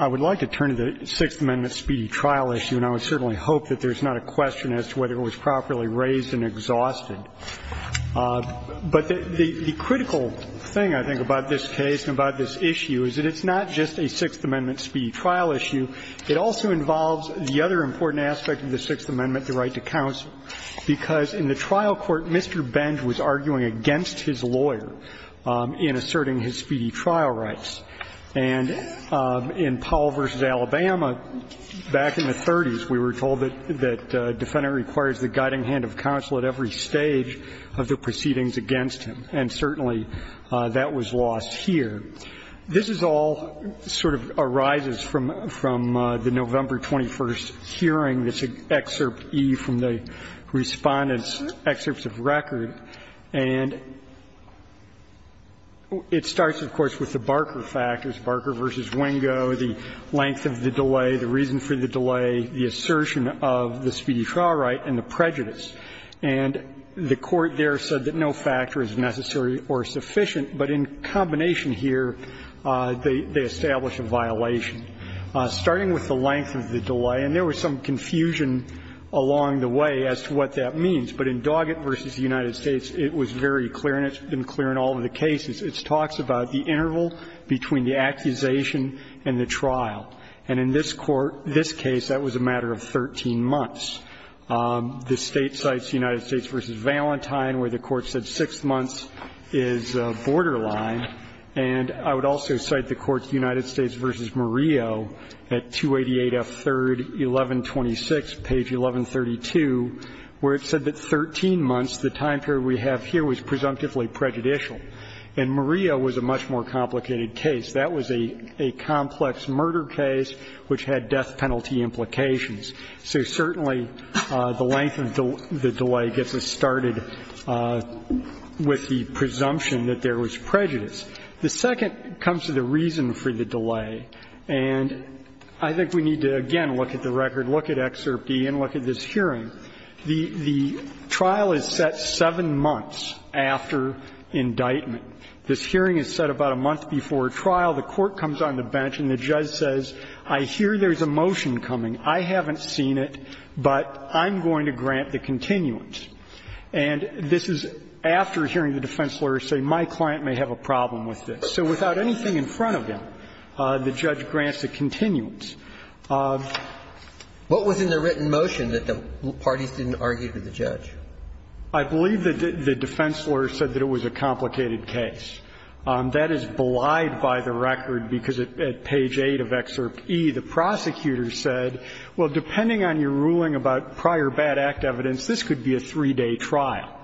I would like to turn to the Sixth Amendment speedy trial issue and I would certainly hope that there is not a question as to whether it was properly raised and exhausted. But the critical thing, I think, about this case and about this issue is that it's not just a Sixth Amendment speedy trial issue. It also involves the other important aspect of the Sixth Amendment, the right to counsel, because in the trial court, Mr. Benge was arguing against his lawyer in asserting his speedy trial rights. And in Powell v. Alabama, back in the 30s, we were told that a defendant requires the guiding hand of counsel at every stage of the proceedings against him, and certainly that was lost here. This is all sort of arises from the November 21st hearing, this Excerpt E from the Respondent's Excerpts of Record, and it starts, of course, with the Barker factors, Barker v. Wingo, the length of the delay, the reason for the delay, the assertion of the speedy trial right and the prejudice. And the Court there said that no factor is necessary or sufficient, but in combination here, they establish a violation. Starting with the length of the delay, and there was some confusion along the way as to what that means, but in Doggett v. United States, it was very clear, and it's been clear in all of the cases. It talks about the interval between the accusation and the trial. And in this Court, this case, that was a matter of 13 months. The State cites United States v. Valentine, where the Court said 6 months is borderline. And I would also cite the Court's United States v. Murillo at 288F3rd 1126, page 1132. Where it said that 13 months, the time period we have here, was presumptively prejudicial. And Murillo was a much more complicated case. That was a complex murder case which had death penalty implications. So certainly, the length of the delay gets us started with the presumption that there was prejudice. The second comes to the reason for the delay. And I think we need to, again, look at the record, look at Excerpt E, and look at this The trial is set 7 months after indictment. This hearing is set about a month before trial. The Court comes on the bench, and the judge says, I hear there's a motion coming. I haven't seen it, but I'm going to grant the continuance. And this is after hearing the defense lawyer say, my client may have a problem with this. So without anything in front of him, the judge grants the continuance. What was in the written motion that the parties didn't argue with the judge? I believe that the defense lawyer said that it was a complicated case. That is belied by the record, because at page 8 of Excerpt E, the prosecutor said, well, depending on your ruling about prior bad act evidence, this could be a three-day trial.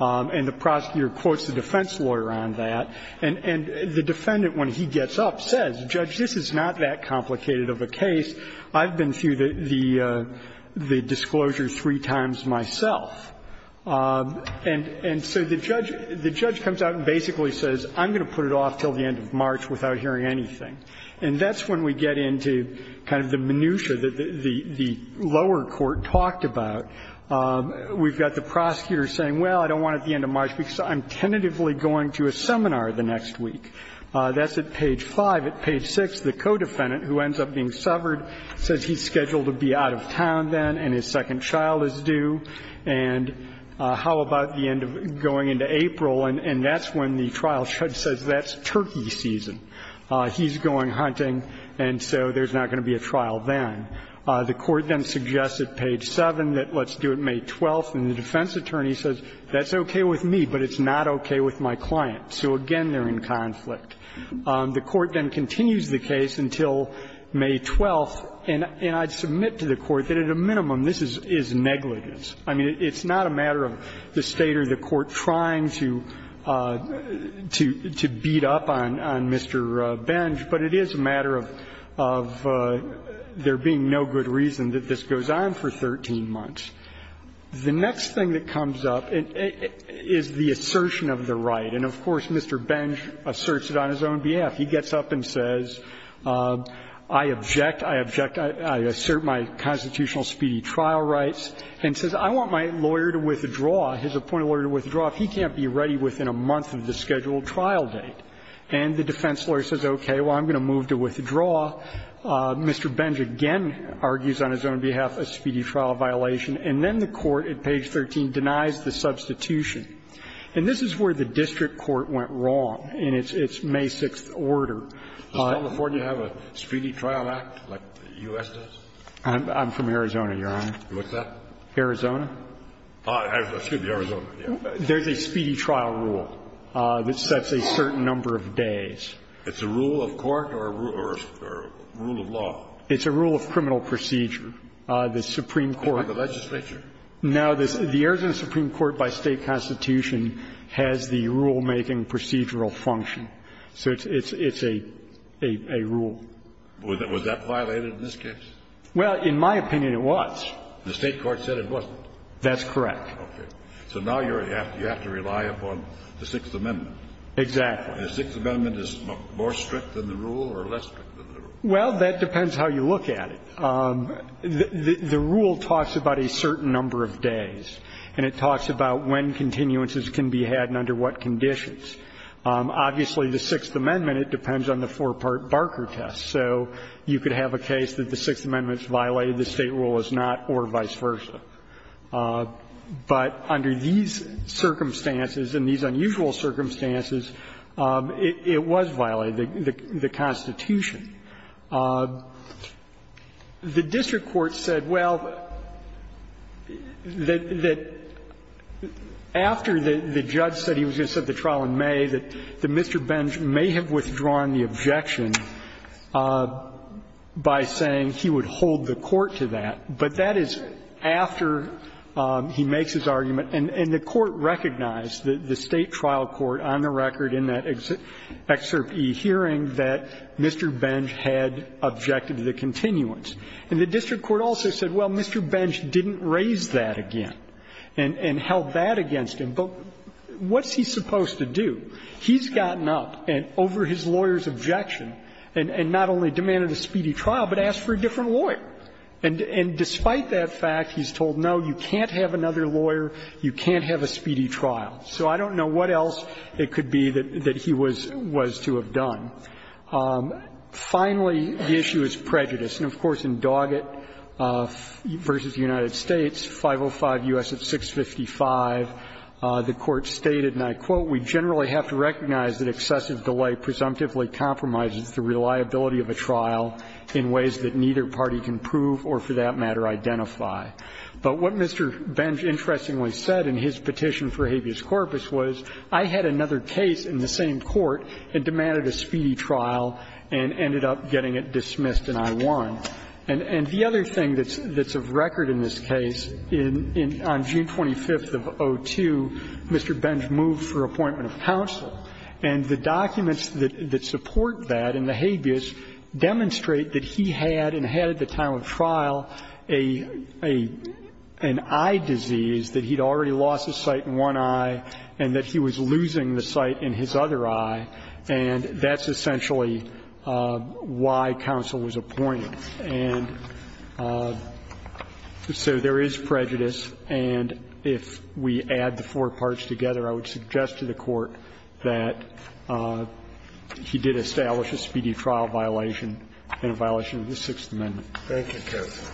And the prosecutor quotes the defense lawyer on that. And the defendant, when he gets up, says, Judge, this is not that complicated of a case. I've been through the disclosure three times myself. And so the judge comes out and basically says, I'm going to put it off until the end of March without hearing anything. And that's when we get into kind of the minutiae that the lower court talked about. We've got the prosecutor saying, well, I don't want it at the end of March, because I'm tentatively going to a seminar the next week. That's at page 5. At page 6, the co-defendant, who ends up being severed, says he's scheduled to be out of town then and his second child is due, and how about the end of going into April? And that's when the trial judge says, that's turkey season. He's going hunting, and so there's not going to be a trial then. The court then suggests at page 7 that let's do it May 12th, and the defense attorney says, that's okay with me, but it's not okay with my client. So again, they're in conflict. The court then continues the case until May 12th, and I submit to the court that at a minimum this is negligence. I mean, it's not a matter of the State or the court trying to beat up on Mr. Benj, but it is a matter of there being no good reason that this goes on for 13 months. The next thing that comes up is the assertion of the right, and of course, Mr. Benj asserts it on his own behalf. He gets up and says, I object, I object, I assert my constitutional speedy trial rights, and says I want my lawyer to withdraw, his appointed lawyer to withdraw if he can't be ready within a month of the scheduled trial date. And the defense lawyer says, okay, well, I'm going to move to withdraw. Mr. Benj again argues on his own behalf a speedy trial violation, and then the court at page 13 denies the substitution. And this is where the district court went wrong in its May 6th order. Scalia, do you have a speedy trial act like the U.S. does? I'm from Arizona, Your Honor. What's that? Arizona. Excuse me, Arizona. There's a speedy trial rule that sets a certain number of days. It's a rule of court or a rule of law? It's a rule of criminal procedure. The Supreme Court of the legislature. Now, the Arizona Supreme Court by State constitution has the rulemaking procedural function. So it's a rule. Was that violated in this case? Well, in my opinion, it was. The State court said it wasn't. That's correct. Okay. So now you have to rely upon the Sixth Amendment. Exactly. The Sixth Amendment is more strict than the rule or less strict than the rule? Well, that depends how you look at it. The rule talks about a certain number of days, and it talks about when continuances can be had and under what conditions. Obviously, the Sixth Amendment, it depends on the four-part Barker test. So you could have a case that the Sixth Amendment's violated, the State rule is not, or vice versa. But under these circumstances and these unusual circumstances, it was violated, the Constitution. The district court said, well, that after the judge said he was going to set the trial in May, that Mr. Benjamin may have withdrawn the objection by saying he would hold the court to that. But that is after he makes his argument, and the court recognized, the State trial court on the record in that Excerpt E hearing, that Mr. Bench had objected to the continuance. And the district court also said, well, Mr. Bench didn't raise that again and held that against him, but what's he supposed to do? He's gotten up and over his lawyer's objection and not only demanded a speedy trial, but asked for a different lawyer. And despite that fact, he's told, no, you can't have another lawyer, you can't have a speedy trial. So I don't know what else it could be that he was to have done. Finally, the issue is prejudice. And of course, in Doggett v. United States, 505 U.S. at 655, the Court stated, and I quote, But what Mr. Bench interestingly said in his petition for habeas corpus was, I had another case in the same court and demanded a speedy trial and ended up getting it dismissed and I won. And the other thing that's of record in this case, on June 25th of 2002, Mr. Bench And the documents that support that in the habeas demonstrate that he had, and had at the time of trial, an eye disease, that he'd already lost his sight in one eye and that he was losing the sight in his other eye, and that's essentially why counsel was appointed. And so there is prejudice, and if we add the four parts together, I would suggest to the Court that he did establish a speedy trial violation and a violation of the Sixth Amendment. Thank you, counsel.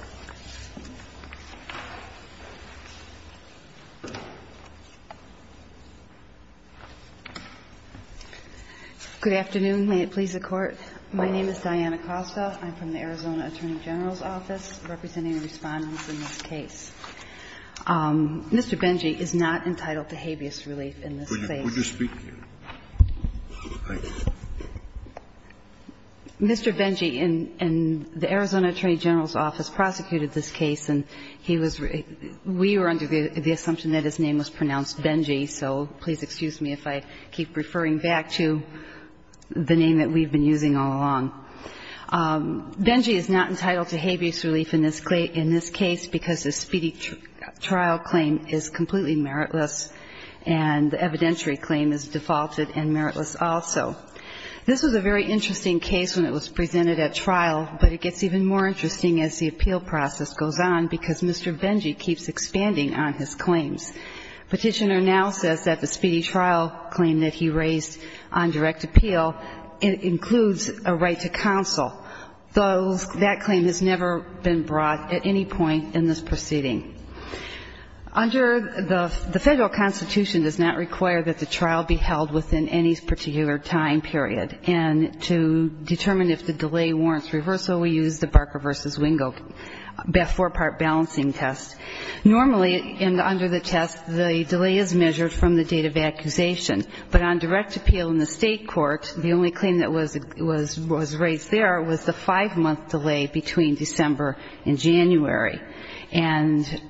Good afternoon. May it please the Court. My name is Diana Costa. I'm from the Arizona Attorney General's Office, representing the Respondents in this case. Mr. Benchy is not entitled to habeas relief in this case. Could you speak here? Mr. Benchy in the Arizona Attorney General's Office prosecuted this case, and he was really we were under the assumption that his name was pronounced Benchy, so please excuse me if I keep referring back to the name that we've been using all along. Benchy is not entitled to habeas relief in this case because the speedy trial claim is completely meritless, and the evidentiary claim is defaulted and meritless also. This was a very interesting case when it was presented at trial, but it gets even more interesting as the appeal process goes on because Mr. Benchy keeps expanding on his claims. Petitioner now says that the speedy trial claim that he raised on direct appeal includes a right to counsel. That claim has never been brought at any point in this proceeding. Under the Federal Constitution, it does not require that the trial be held within any particular time period, and to determine if the delay warrants reversal, we use the Barker v. Wingo four-part balancing test. Normally, under the test, the delay is measured from the date of accusation, but on direct appeal in the state court, the only claim that was raised there was the five-month delay between December and January. And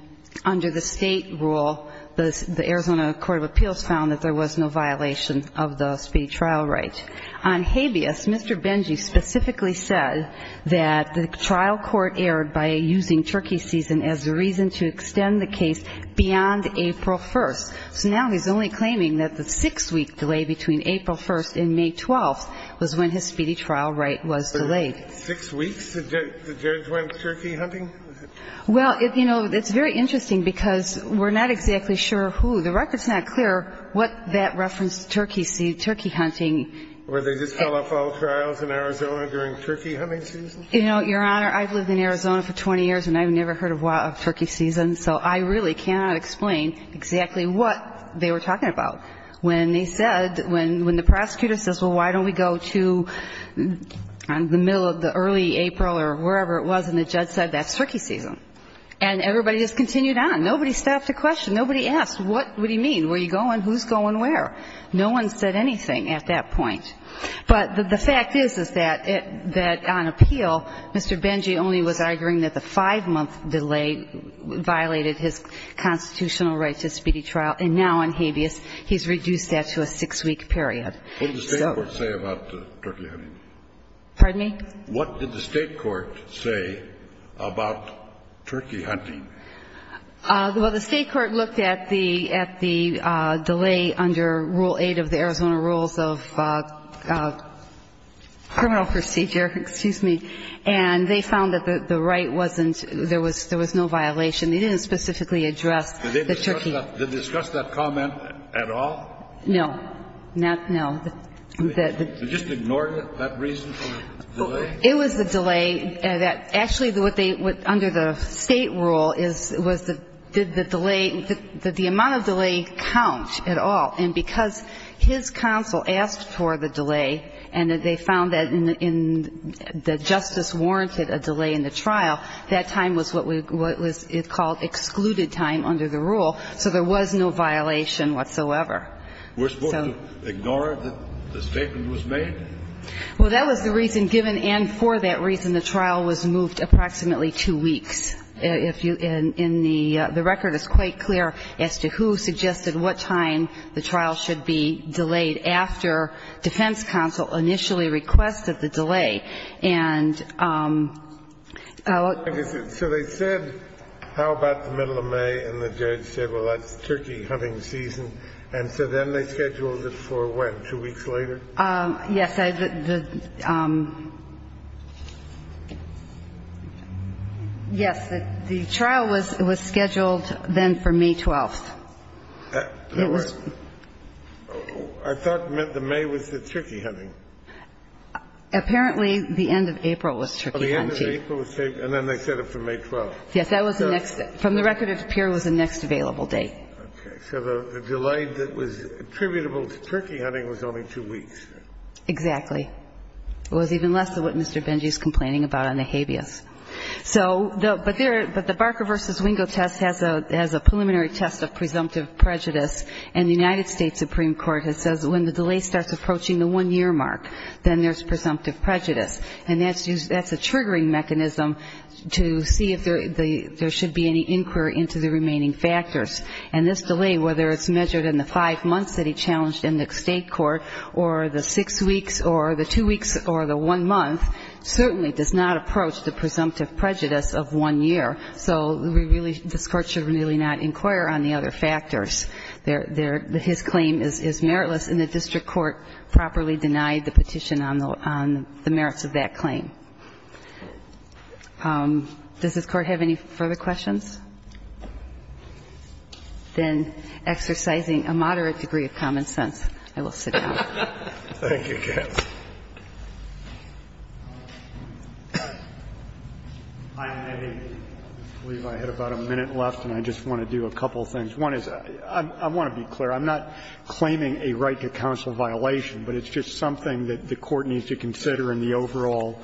under the state rule, the Arizona Court of Appeals found that there was no violation of the speedy trial right. On habeas, Mr. Benchy specifically said that the trial court erred by using turkey season as a reason to extend the case beyond April 1st. So now he's only claiming that the six-week delay between April 1st and May 12th was when his speedy trial right was delayed. Six weeks, the judge went turkey hunting? Well, you know, it's very interesting because we're not exactly sure who. The record's not clear what that referenced turkey hunting. Were they just telephone trials in Arizona during turkey hunting season? You know, Your Honor, I've lived in Arizona for 20 years and I've never heard of turkey season, so I really cannot explain exactly what they were talking about. When they said, when the prosecutor says, well, why don't we go to the middle of the early April or wherever it was, and the judge said that's turkey season. And everybody just continued on. Nobody stopped to question. Nobody asked, what would he mean? Where are you going? Who's going where? No one said anything at that point. But the fact is, is that on appeal, Mr. Benchy only was arguing that the five-month delay violated his constitutional right to speedy trial. And now on habeas, he's reduced that to a six-week period. What did the state court say about turkey hunting? Pardon me? What did the state court say about turkey hunting? Well, the state court looked at the delay under Rule 8 of the Arizona Rules of Criminal Procedure, excuse me. And they found that the right wasn't, there was no violation. They didn't specifically address the turkey. Did they discuss that comment at all? No, not, no. They just ignored it, that reason for the delay? It was the delay that, actually, what they, under the state rule is, was the delay, did the amount of delay count at all? And because his counsel asked for the delay, and they found that in, that justice warranted a delay in the trial, that time was what we, what was called excluded time under the rule. So there was no violation whatsoever. We're supposed to ignore it, that the statement was made? Well, that was the reason given, and for that reason, the trial was moved approximately two weeks. If you, in the, the record is quite clear as to who suggested what time the trial should be delayed after defense counsel initially requested the delay. And, so they said, how about the middle of May? And the judge said, well, that's turkey hunting season. And so then they scheduled it for what, two weeks later? Yes, the, the, yes, the trial was, was scheduled then for May 12th. That was, I thought the May was the turkey hunting. Apparently, the end of April was turkey hunting. Oh, the end of April was turkey, and then they set it for May 12th. Yes, that was the next, from the record, it appeared was the next available date. Okay. So the delay that was attributable to turkey hunting was only two weeks? Exactly. It was even less than what Mr. Benji is complaining about on the habeas. So, the, but there, but the Barker v. Wingo test has a, has a preliminary test of presumptive prejudice, and the United States Supreme Court has said that when the delay starts approaching the one-year mark, then there's presumptive prejudice. And that's used, that's a triggering mechanism to see if there, the, there should be any inquiry into the remaining factors. And this delay, whether it's measured in the five months that he challenged in the state court, or the six weeks, or the two weeks, or the one month, certainly does not approach the presumptive prejudice of one year. So, we really, this Court should really not inquire on the other factors. There, there, his claim is, is meritless, and the district court properly denied the petition on the, on the merits of that claim. Does this Court have any further questions? Then, exercising a moderate degree of common sense, I will sit down. Thank you, Katz. I believe I had about a minute left, and I just want to do a couple of things. One is, I want to be clear. I'm not claiming a right to counsel violation, but it's just something that the Court needs to consider in the overall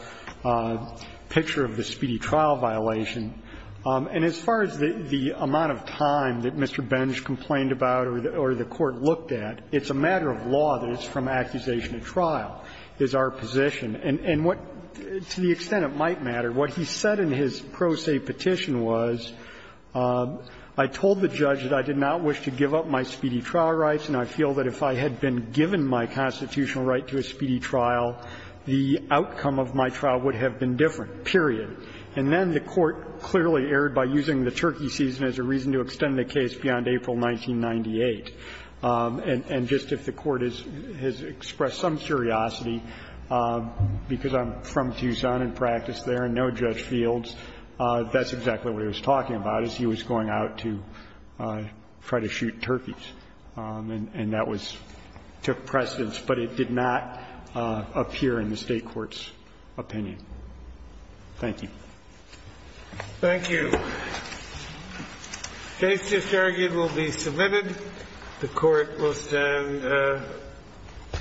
picture of the speedy trial violation. And as far as the, the amount of time that Mr. Bench complained about or the, or the Court looked at, it's a matter of law that it's from accusation to trial is our position. And, and what, to the extent it might matter, what he said in his pro se petition was, I told the judge that I did not wish to give up my speedy trial rights, and I feel that if I had been given my constitutional right to a speedy trial, the outcome of my trial would have been different, period. And then the Court clearly erred by using the turkey season as a reason to extend the case beyond April 1998. And, and just if the Court has, has expressed some curiosity, because I'm from Tucson and practiced there and know Judge Fields, that's exactly what he was talking about, is he was going out to try to shoot turkeys. And, and that was, took precedence, but it did not appear in the State court's opinion. Thank you. Thank you. The case is argued will be submitted. The Court will stand,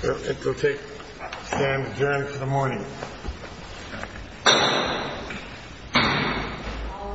it will take, stand adjourned for the morning. All rise. The Court is adjourned.